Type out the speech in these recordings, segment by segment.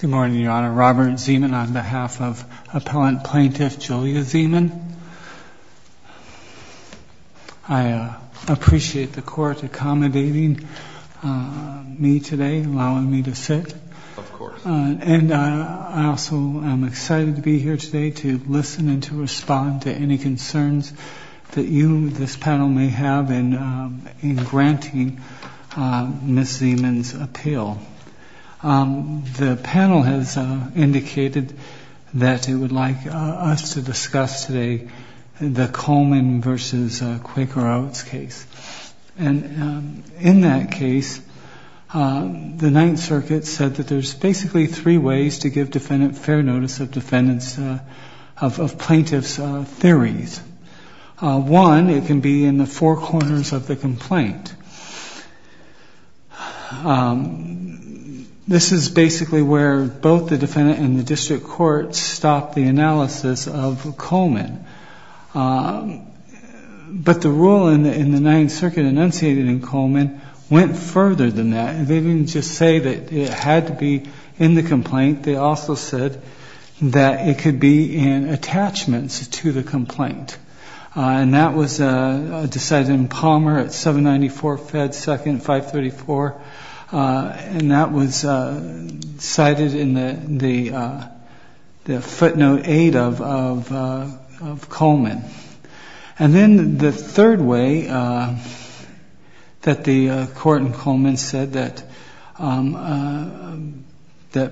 Good morning, Your Honor. Robert Zeman on behalf of Appellant Plaintiff Julia Zeman. I appreciate the Court accommodating me today, allowing me to sit. Of course. And I also am excited to be here today to listen and to respond to any concerns that you, this panel may have in granting Ms. Zeman's appeal. The panel has indicated that it would like us to discuss today the Coleman v. Quaker Outs case. And in that case, the Ninth Circuit said that there's basically three ways to give defendant fair notice of plaintiff's theories. One, it can be in the four corners of the complaint. This is basically where both the defendant and the District Court stopped the analysis of Coleman. But the rule in the Ninth Circuit enunciated in Coleman went further than that. They didn't just say that it had to be in the complaint. They also said that it could be in attachments to the complaint. And that was decided in Palmer at 794 Fed 2nd, 534. And that was cited in the footnote 8 of Coleman. And then the third way that the Court in Coleman said that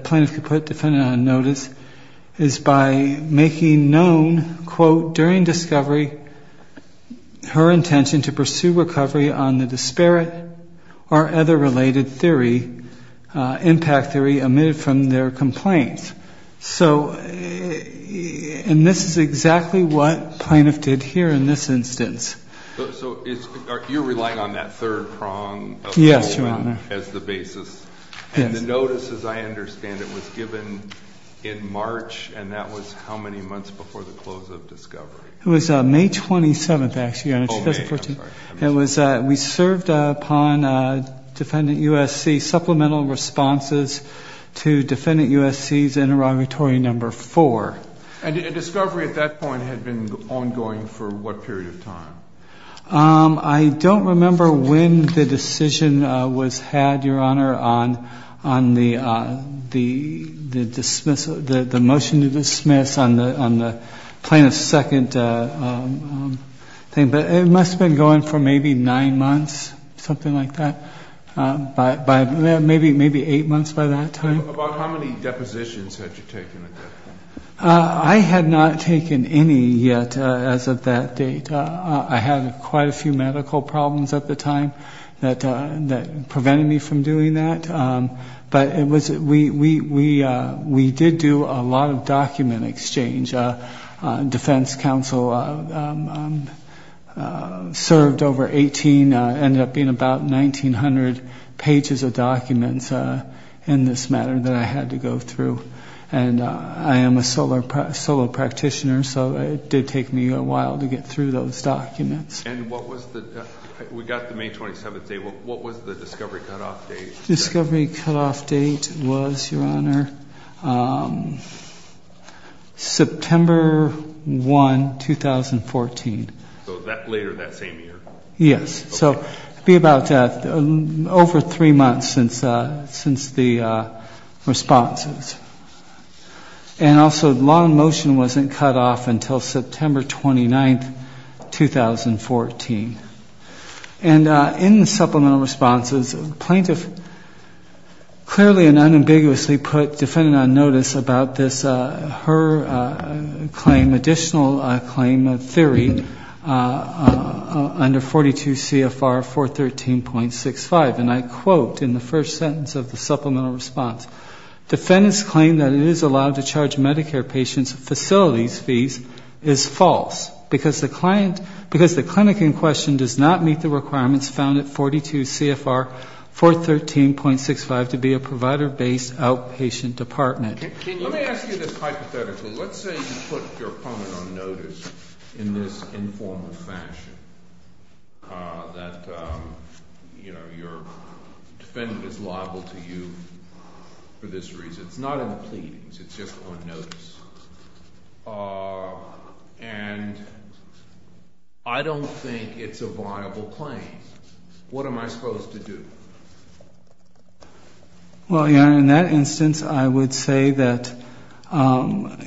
plaintiff could put defendant on notice is by making known, quote, during discovery, her intention to pursue recovery on the disparate or other related theory, impact theory, omitted from their complaint. So, and this is exactly what plaintiff did here in this instance. So, you're relying on that third prong of Coleman as the basis. Yes, Your Honor. And the notice, as I understand it, was given in March, and that was how many months before the close of discovery? It was May 27th, actually, Your Honor, 2014. Oh, May, I'm sorry. It was, we served upon Defendant USC supplemental responses to Defendant USC's interrogatory number four. And discovery at that point had been ongoing for what period of time? I don't remember when the decision was had, Your Honor, on the motion to dismiss on the plaintiff's second thing, but it must have been going for maybe nine months, something like that, maybe eight months by that time. About how many depositions had you taken at that point? I had not taken any yet as of that date. I had quite a few medical problems at the time that prevented me from doing that. But it was, we did do a lot of document exchange. Defense counsel served over 18, ended up being about 1,900 pages of documents in this matter that I had to go through. And I am a solo practitioner, so it did take me a while to get through those documents. And what was the, we got the May 27th date, what was the discovery cutoff date? Discovery cutoff date was, Your Honor, September 1, 2014. So that later that same year? Yes. So it would be about over three months since the responses. And also the law in motion wasn't cut off until September 29, 2014. And in the supplemental responses, the plaintiff clearly and unambiguously put defendant on notice about this, her claim, additional claim, theory under 42 CFR 413.65. And I quote in the first sentence of the supplemental response, defendants claim that it is allowed to charge Medicare patients facilities fees is false because the client, because the clinic in question does not meet the requirements found at 42 CFR 413.65 to be a provider-based outpatient department. Let me ask you this hypothetically. Let's say you put your opponent on notice in this informal fashion that, you know, your defendant is liable to you for this reason. It's not on pleading. It's just on notice. And I don't think it's a viable claim. What am I supposed to do? Well, Your Honor, in that instance, I would say that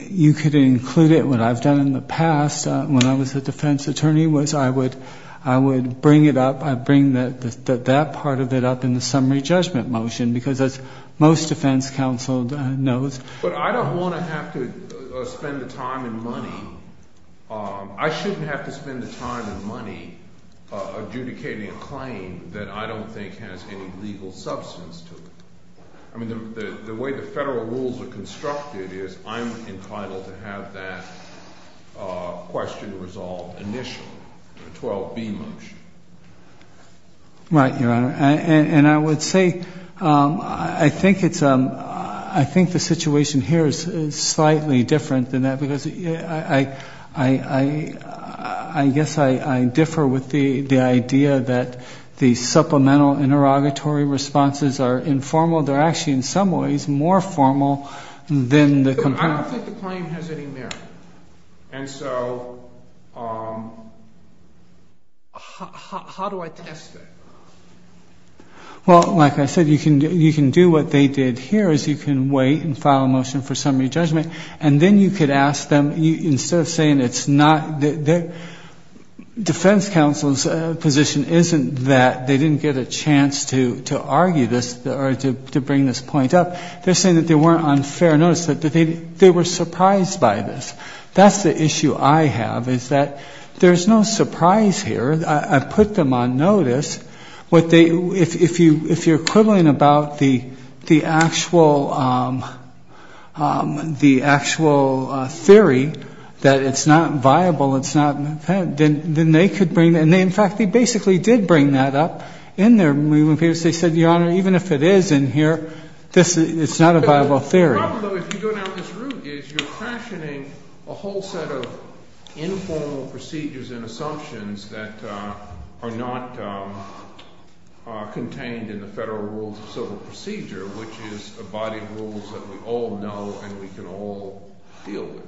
you could include it. What I've done in the past when I was a defense attorney was I would bring it up. I'd bring that part of it up in the summary judgment motion, because as most defense counsel knows. But I don't want to have to spend the time and money. I shouldn't have to spend the time and money adjudicating a claim that I don't think has any legal substance to it. I mean, the way the federal rules are constructed is I'm entitled to have that question resolved initially, the 12B motion. Right, Your Honor. And I would say I think the situation here is slightly different than that, because I guess I differ with the idea that the supplemental interrogatory responses are informal. They're actually in some ways more formal than the complaint. I don't think the claim has any merit. And so how do I test it? Well, like I said, you can do what they did here is you can wait and file a motion for summary judgment. And then you could ask them, instead of saying it's not, defense counsel's position isn't that they didn't get a chance to argue this or to bring this point up. They're saying that they weren't on fair notice, that they were surprised by this. That's the issue I have, is that there's no surprise here. I put them on notice. If you're quibbling about the actual theory that it's not viable, it's not, then they could bring it. And in fact, they basically did bring that up in their moving papers. They said, Your Honor, even if it is in here, it's not a viable theory. The problem, though, if you go down this route, is you're fashioning a whole set of informal procedures and assumptions that are not contained in the federal rules of civil procedure, which is a body of rules that we all know and we can all deal with.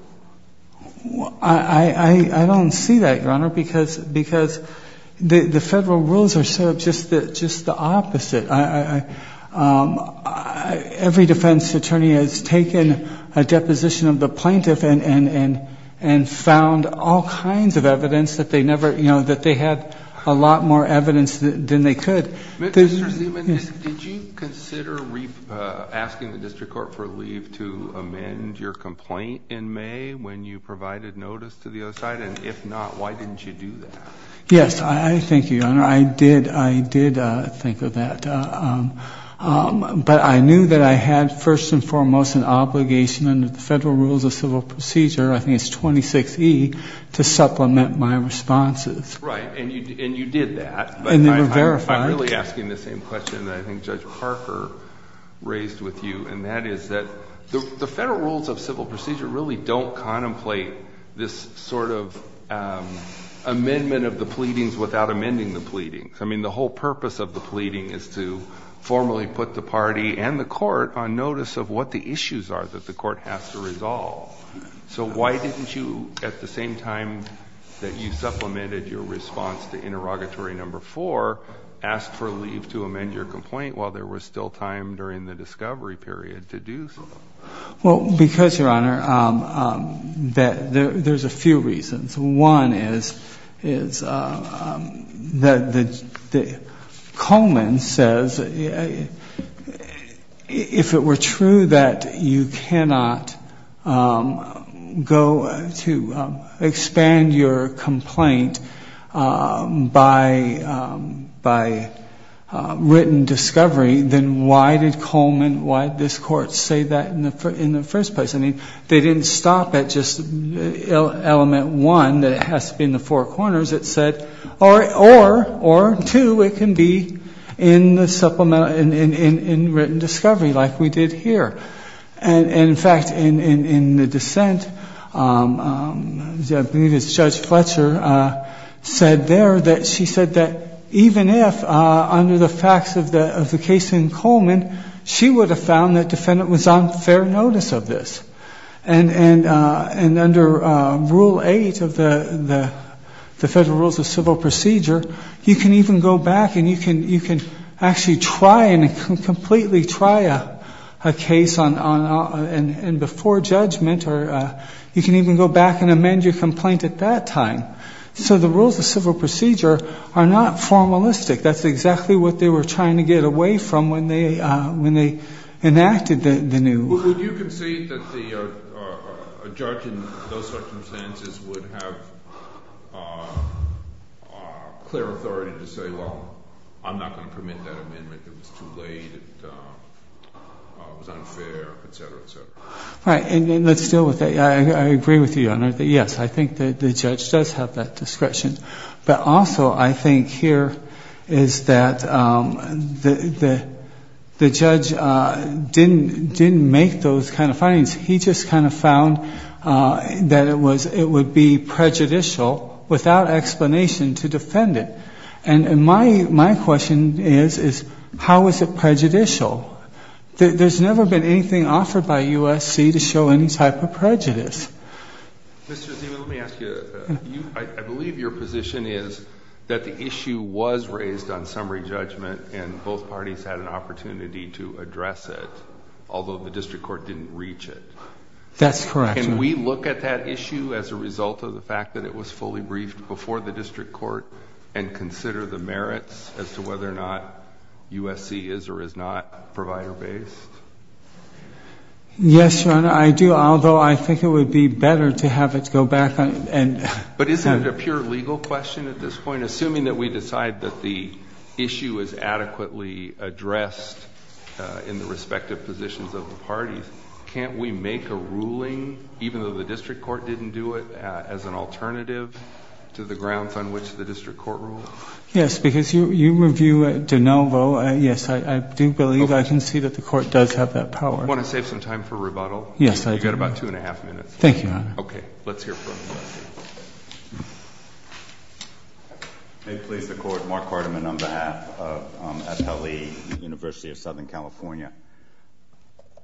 I don't see that, Your Honor, because the federal rules are sort of just the opposite. Every defense attorney has taken a deposition of the plaintiff and found all kinds of evidence that they never, you know, that they had a lot more evidence than they could. Mr. Zeman, did you consider asking the district court for leave to amend your complaint in May when you provided notice to the other side? And if not, why didn't you do that? Yes, I think, Your Honor, I did, I did think of that. But I knew that I had first and foremost an obligation under the federal rules of civil procedure, I think it's 26E, to supplement my responses. Right. And you did that. And they were verified. I'm really asking the same question that I think Judge Parker raised with you, and that is that the federal rules of civil procedure really don't contemplate this sort of amendment of the pleadings without amending the pleadings. I mean, the whole purpose of the pleading is to formally put the party and the court on notice of what the issues are that the court has to resolve. So why didn't you, at the same time that you supplemented your response to interrogatory number four, ask for leave to amend your complaint while there was still time during the discovery period to do so? Well, because, Your Honor, there's a few reasons. One is that Coleman says, if it were true that you cannot go to expand your complaint by written discovery, then why did Coleman, why did this court say that in the first place? I mean, they didn't stop at just element one, that it has to be in the four corners. It said, or two, it can be in written discovery like we did here. And, in fact, in the dissent, Judge Fletcher said there that she said that even if, under the facts of the case in Coleman, she would have found that the defendant was on fair notice of this. And under Rule 8 of the Federal Rules of Civil Procedure, you can even go back and you can actually try and completely try a case before judgment or you can even go back and amend your complaint at that time. So the Rules of Civil Procedure are not formalistic. That's exactly what they were trying to get away from when they enacted the new... Would you concede that a judge in those circumstances would have clear authority to say, well, I'm not going to permit that amendment, it was too late, it was unfair, et cetera, et cetera? Right, and let's deal with that. I agree with you, Your Honor, that yes, I think the judge does have that discretion, but also I think here is that the judge didn't make those kind of findings. He just kind of found that it would be prejudicial without explanation to defend it. And my question is, how was it prejudicial? There's never been anything offered by USC to show any type of prejudice. Mr. Zima, let me ask you, I believe your position is that the issue was raised on summary judgment and both parties had an opportunity to address it, although the district court didn't reach it. That's correct, Your Honor. Can we look at that issue as a result of the fact that it was fully briefed before the district court and consider the merits as to whether or not USC is or is not provider based? Yes, Your Honor, I do, although I think it would be better to have it go back and... But isn't it a pure legal question at this point? Assuming that we decide that the issue is adequately addressed in the respective positions of the parties, can't we make a ruling, even though the district court didn't do it, as an alternative to the grounds on which the district court ruled? Yes, because you review De Novo. Yes, I do believe I can see that the court does have that power. Do you want to save some time for rebuttal? Yes, I do. You've got about two and a half minutes left. Thank you, Your Honor. Okay, let's hear from him. May it please the Court, Mark Cartman on behalf of Appellee University of Southern California.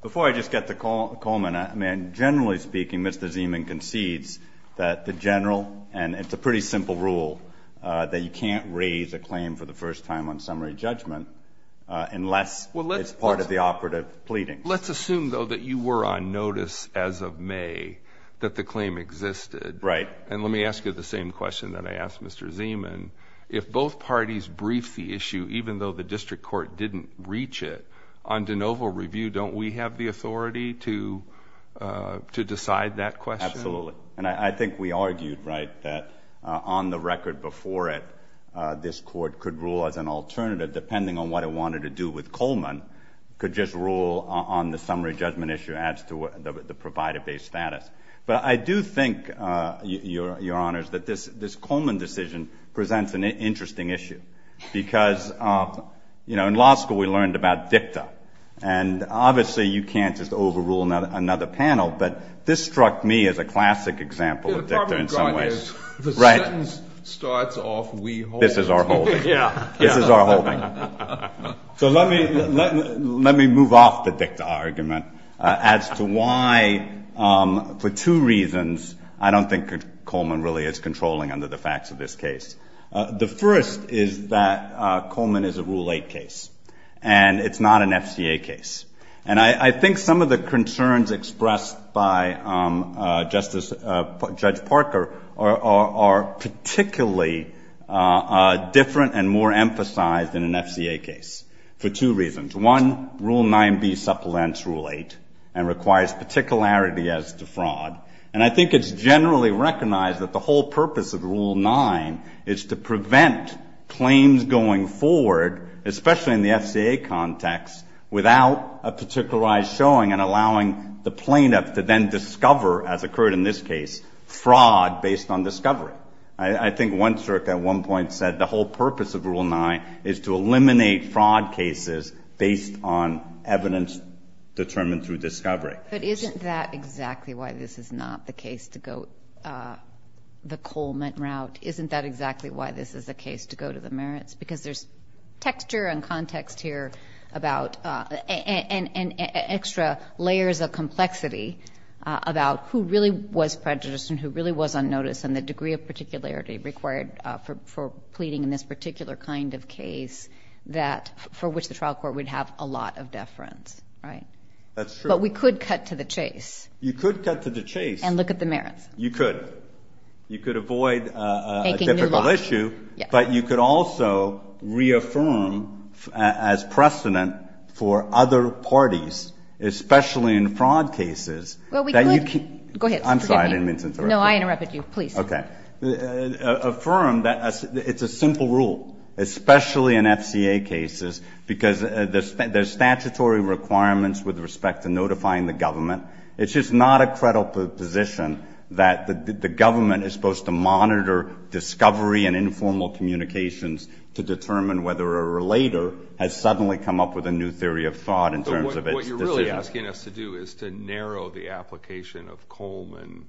Before I just get to Coleman, I mean, generally speaking, Mr. Zima concedes that the general and it's a pretty simple rule that you can't raise a claim for the first time on summary judgment unless it's part of the operative pleading. Let's assume, though, that you were on notice as of May that the claim existed. Right. And let me ask you the same question that I asked Mr. Ziman. If both parties brief the issue, even though the district court didn't reach it, on De Novo review, don't we have the authority to decide that question? Absolutely. And I think we argued, right, that on the record before it, this court could rule as an alternative depending on what it wanted to do with Coleman, could just rule on the summary judgment issue as to the provider-based status. But I do think, Your Honors, that this Coleman decision presents an interesting issue because, you know, in law school we learned about dicta. And obviously you can't just overrule another panel, but this struck me as a classic example of dicta in some ways. The problem, Your Honor, is the sentence starts off, we hold. This is our holding. This is our holding. So let me move off the dicta argument as to why for two reasons I don't think Coleman really is controlling under the facts of this case. The first is that Coleman is a Rule 8 case and it's not an FCA case. And I think some of the concerns expressed by Justice, Judge Parker, are particularly different and more emphasized in an FCA case for two reasons. One, Rule 9b supplements Rule 8 and requires particularity as to fraud. And I think it's generally recognized that the whole purpose of Rule 9 is to prevent claims going forward, especially in the FCA context, without a particularized showing and allowing the plaintiff to then discover, as occurred in this case, fraud based on discovery. I think one circ at one point said the whole purpose of Rule 9 is to eliminate fraud cases based on evidence determined through discovery. But isn't that exactly why this is not the case to go the Coleman route? Isn't that exactly why this is the case to go to the merits? Because there's texture and context here about – and extra layers of complexity about who really was prejudiced and who really was on notice and the degree of particularity required for pleading in this particular kind of case for which the trial court would have a lot of deference, right? That's true. But we could cut to the chase. You could cut to the chase. And look at the merits. You could. You could avoid a difficult issue. But you could also reaffirm as precedent for other parties, especially in fraud cases, that you can – Well, we could. Go ahead. I'm sorry. I didn't mean to interrupt you. No, I interrupted you. Please. Okay. Affirm that it's a simple rule, especially in FCA cases, because there's statutory requirements with respect to notifying the government. It's just not a credible position that the government is supposed to monitor discovery and informal communications to determine whether a relator has suddenly come up with a new theory of fraud in terms of its decision. What you're really asking us to do is to narrow the application of Coleman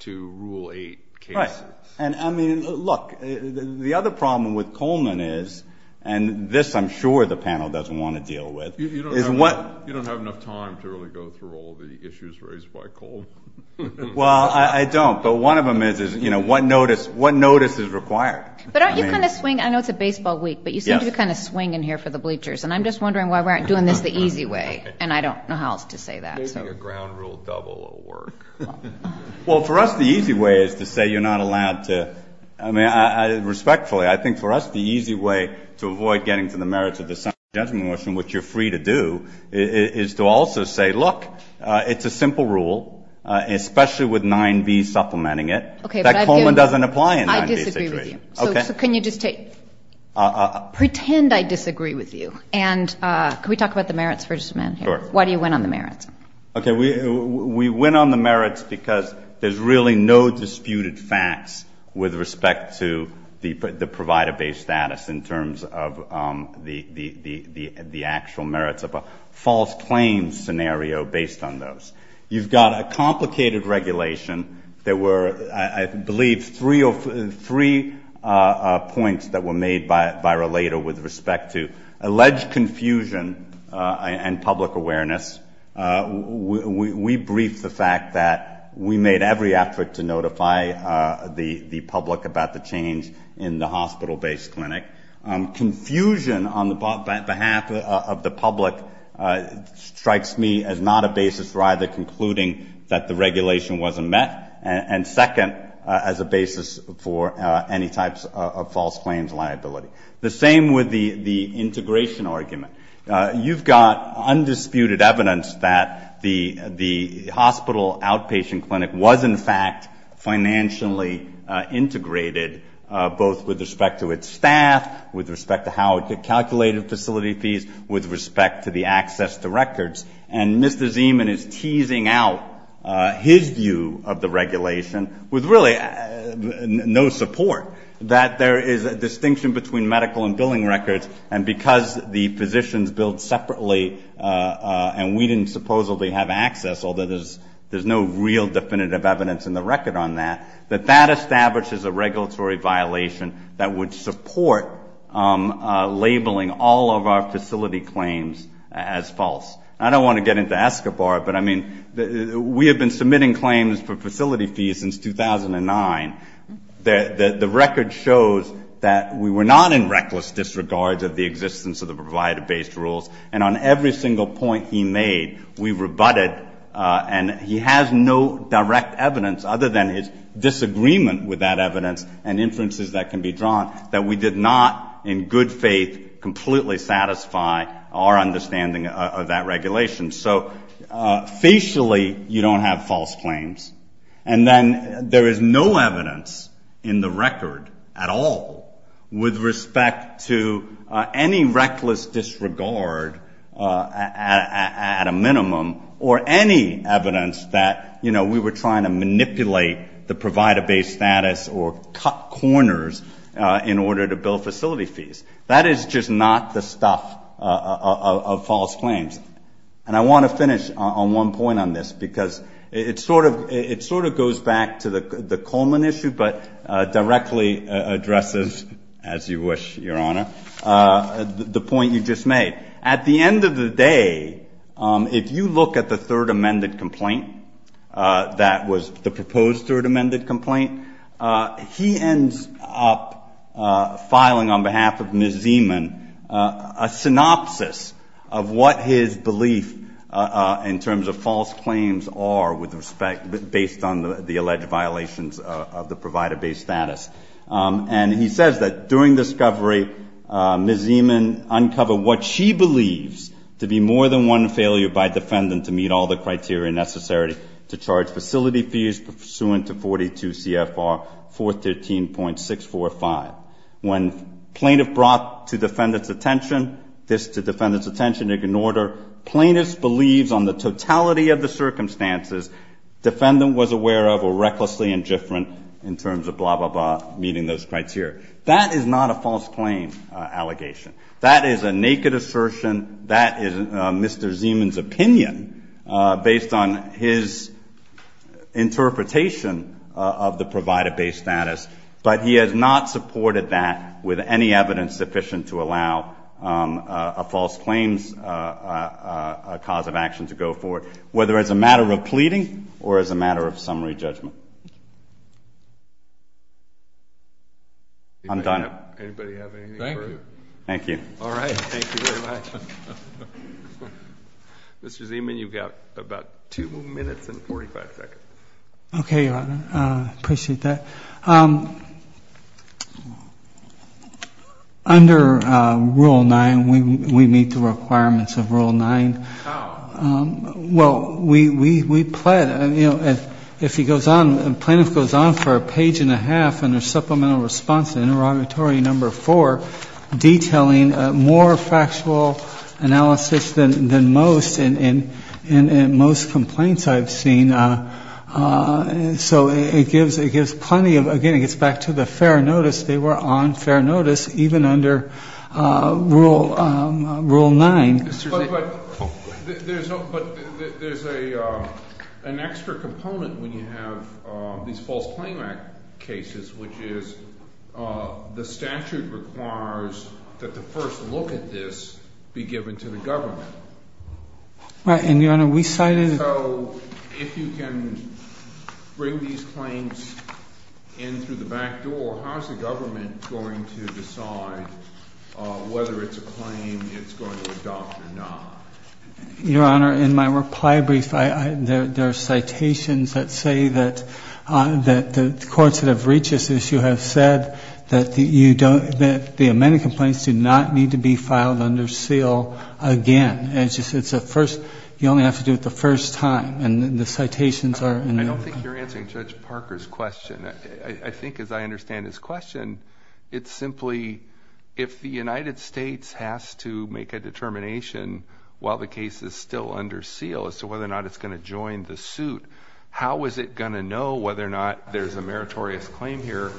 to Rule 8 cases. Right. And I mean, look, the other problem with Coleman is – and this I'm sure the panel doesn't want to deal with – is what – You don't have enough time to really go through all the issues raised by Coleman. Well, I don't. But one of them is, you know, what notice is required. But don't you kind of swing – I know it's a baseball week, but you seem to kind of swing in here for the bleachers. And I'm just wondering why we aren't doing this the easy way. And I don't know how else to say that. Maybe a ground rule double will work. Well, for us the easy way is to say you're not allowed to – I mean, respectfully, I think for us the easy way to avoid getting to the merits of the Senate Judgment Motion, which you're free to do, is to also say, look, it's a simple rule, especially with 9b supplementing it. Okay, but I've given – That Coleman doesn't apply in 9b situations. I disagree with you. Okay. So can you just take – pretend I disagree with you. And can we talk about the merits for just a minute here? Sure. Why do you win on the merits? Okay. We win on the merits because there's really no disputed facts with respect to the provider-based status in terms of the actual merits of a false claim scenario based on those. You've got a complicated regulation that were, I believe, three points that were made by Relator with respect to alleged confusion and public awareness. We briefed the fact that we made every effort to notify the public about the change in the hospital-based clinic. Confusion on the behalf of the public strikes me as not a basis for either concluding that the regulation wasn't met, and second, as a basis for any types of false claims liability. The same with the integration argument. You've got undisputed evidence that the hospital outpatient clinic was, in fact, financially integrated both with respect to its staff, with respect to how it calculated facility fees, with respect to the access to records. And Mr. Zeman is teasing out his view of the regulation with really no support that there is a distinction between medical and billing records, and because the physicians billed it, and we didn't supposedly have access, although there's no real definitive evidence in the record on that, that that establishes a regulatory violation that would support labeling all of our facility claims as false. I don't want to get into Escobar, but we have been submitting claims for facility fees since 2009. The record shows that we were not in every single point he made. We rebutted, and he has no direct evidence other than his disagreement with that evidence and inferences that can be drawn, that we did not in good faith completely satisfy our understanding of that regulation. So facially, you don't have false claims, and then there is no evidence in the record at all with respect to any reckless disregard at a minimum, or any evidence that, you know, we were trying to manipulate the provider base status or cut corners in order to bill facility fees. That is just not the stuff of false claims. And I want to finish on one point on this, because it sort of goes back to the Coleman issue, but directly addresses, as you wish, Your Honor, the point you just made. At the end of the day, if you look at the third amended complaint that was the proposed third amended complaint, he ends up filing on behalf of Ms. Zeman a synopsis of what his belief in terms of false claims are with respect, based on the alleged violations of the provider base status. And he says that during discovery, Ms. Zeman uncovered what she believes to be more than one failure by defendant to meet all the criteria necessary to charge facility fees pursuant to 42 CFR 413.645. When plaintiff brought to defendant's attention, this to the totality of the circumstances, defendant was aware of or recklessly indifferent in terms of blah, blah, blah, meeting those criteria. That is not a false claim allegation. That is a naked assertion. That is Mr. Zeman's opinion based on his interpretation of the provider base status. But he has not supported that with any evidence sufficient to allow a false claims cause of action to go forward, whether as a matter of pleading or as a matter of summary judgment. I'm done. Anybody have anything further? Thank you. All right. Thank you very much. Mr. Zeman, you've got about 2 minutes and 45 seconds. Okay, Your Honor. I appreciate that. Under Rule 9, we meet the requirements of Rule 9. How? Well, we plead. You know, if he goes on, the plaintiff goes on for a page and a half in their supplemental response to Interrogatory Number 4, detailing more factual analysis than most in most complaints I've seen. So it gives plenty of, again, it gets back to the fair notice. They were on fair notice even under Rule 9. But there's an extra component when you have these false claim act cases, which is the statute requires that the first look at this be given to the plaintiff. So if you can bring these claims in through the back door, how is the government going to decide whether it's a claim it's going to adopt or not? Your Honor, in my reply brief, there are citations that say that the courts that have reached this issue have said that the amended complaints do not need to be filed under seal again. It's just it's the first, you only have to do it the first time. And the citations are in there. I don't think you're answering Judge Parker's question. I think as I understand his question, it's simply if the United States has to make a determination while the case is still under seal as to whether or not it's going to join the suit, how is it going to know whether or not there's a meritorious claim here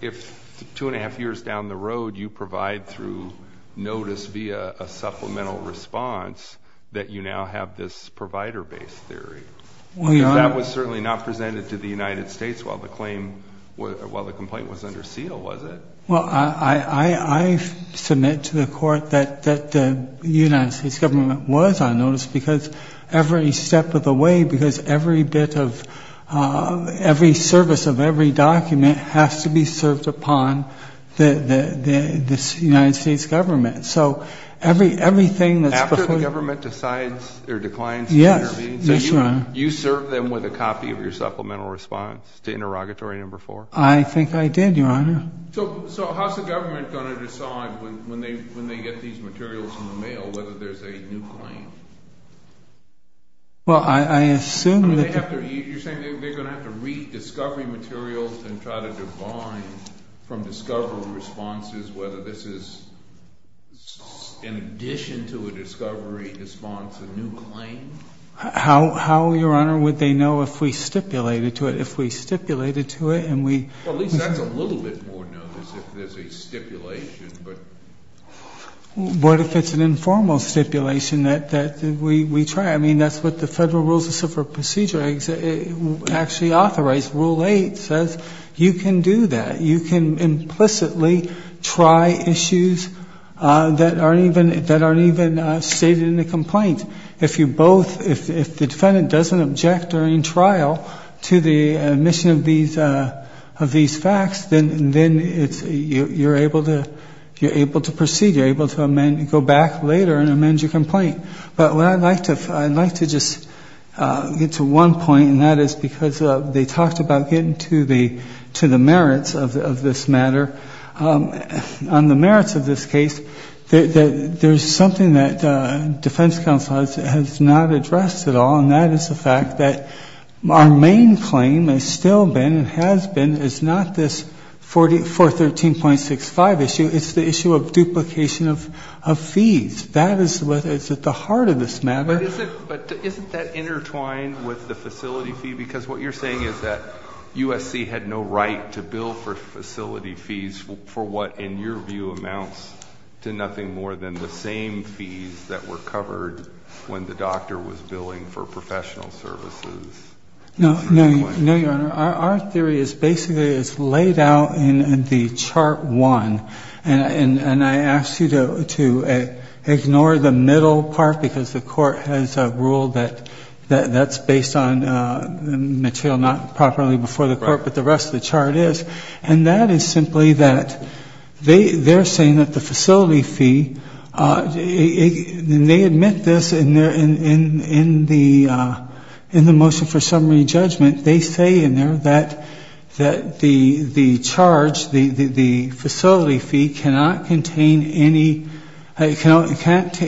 if two and a half years down the road you provide through notice via a supplemental response that you now have this provider-based theory? If that was certainly not presented to the United States while the complaint was under seal, was it? Well, I submit to the Court that the United States government was on notice because every step of the way, because every bit of every service of every document has to be served upon the United States government. So everything that's before you... After the government decides or declines... Yes, yes, Your Honor. You serve them with a copy of your supplemental response to interrogatory number four? I think I did, Your Honor. So how's the government going to decide when they get these materials in the mail whether there's a new claim? Well, I assume that... You're saying they're going to have to rediscovery materials and try to divide from discovery responses whether this is in addition to a discovery response a new claim? How, Your Honor, would they know if we stipulated to it? If we stipulated to it and we... Well, at least that's a little bit more notice if there's a stipulation, but... What if it's an informal stipulation that we try? I mean, that's what the Federal Rules of Civil Procedure actually authorize. Rule eight says you can do that. You can implicitly try issues that aren't even stated in the complaint. If you both... If the defendant doesn't object during trial to the admission of these facts, then you're able to proceed. You're able to amend and go back later and amend your complaint. But I'd like to just get to one point, and that is because they talked about getting to the merits of this matter. On the merits of this case, there's something that defense counsel has not addressed at all, and that is the fact that our main claim has still been and has been is not this 413.65 issue. It's the issue of duplication of fees. That is what is at the heart of this matter. But isn't that intertwined with the facility fee? Because what you're saying is that USC had no right to bill for facility fees for what, in your view, amounts to nothing more than the same fees that were covered when the doctor was billing for professional services. No, Your Honor. Our theory is basically it's laid out in the chart one, and I ask you to ignore the middle part because the court has ruled that that's based on material not properly before the court, but the rest of the chart is. And that is simply that they're saying that the facility fee, and they admit this in the motion for summary judgment, they say in there that the charge, the facility fee, cannot contain any exception to the fact that it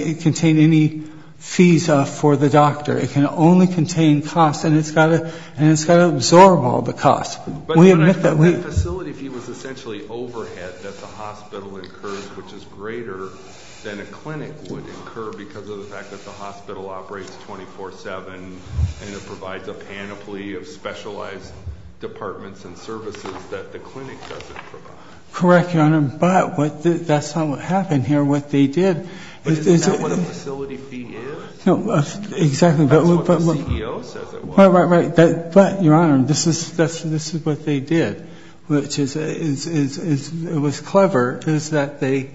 can't contain any fees for the doctor. It can only contain costs, and it's got to absorb all the costs. We admit that. But the facility fee was essentially overhead that the hospital incurs, which is greater than a clinic would incur because of the fact that the hospital operates 24-7 and it provides a panoply of specialized departments and services that the clinic doesn't provide. Correct, Your Honor, but that's not what happened here. What they did is... But isn't that what the facility fee is? Exactly. That's what the CEO says it was. Right, right, right. But, Your Honor, this is what they did, which is, it was clever, is that they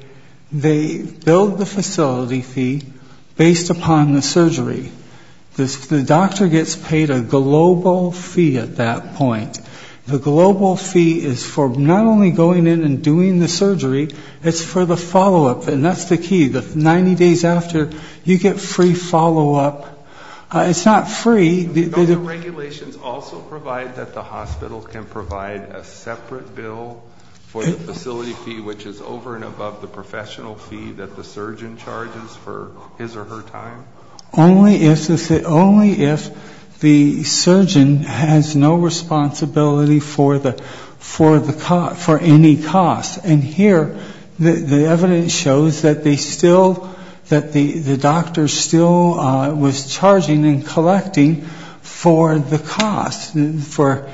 billed the facility fee based upon the surgery. The doctor gets paid a global fee at that point. The global fee is for not only going in and doing the surgery, it's for the follow-up, and that's the key. 90 days after, you get free follow-up. It's not free. Don't the regulations also provide that the hospital can provide a separate bill for the facility fee, which is over and above the professional fee that the surgeon charges for his or her time? Only if the surgeon has no responsibility for the cost, for any cost. And here, the evidence shows that they still, that the doctor still was charging and collecting for the cost, for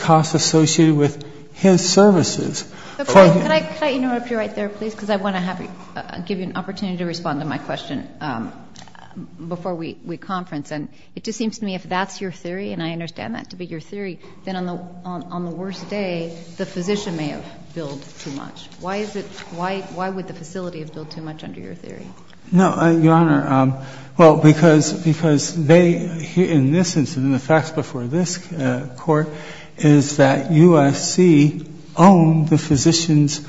costs associated with his services. Can I interrupt you right there, please, because I want to give you an opportunity to respond to my question before we conference. And it just seems to me, if that's your theory, and I understand that to be your theory, then on the worst day, the physician may have billed too much. Why is it, why would the facility have billed too much under your theory? No, Your Honor, well, because they, in this instance, in the facts before this Court, is that USC owned the physicians,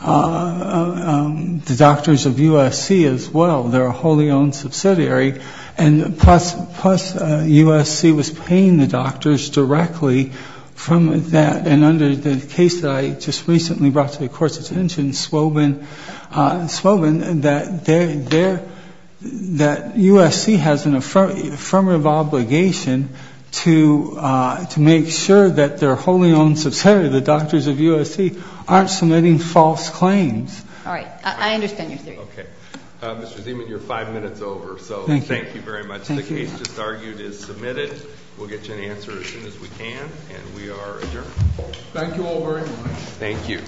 the doctors of USC as well, and so the facility owned the physicians as well. They're a wholly owned subsidiary. And plus, USC was paying the doctors directly from that. And under the case that I just recently brought to the Court's attention, Swobin, that USC has an affirmative obligation to make sure that their wholly owned subsidiary, the doctors of USC, aren't submitting false claims. All right. I understand your theory. Okay. Mr. Zeman, you're five minutes over, so thank you very much. The case just argued is submitted. We'll get you an answer as soon as we can, and we are adjourned. Thank you all very much. Thank you.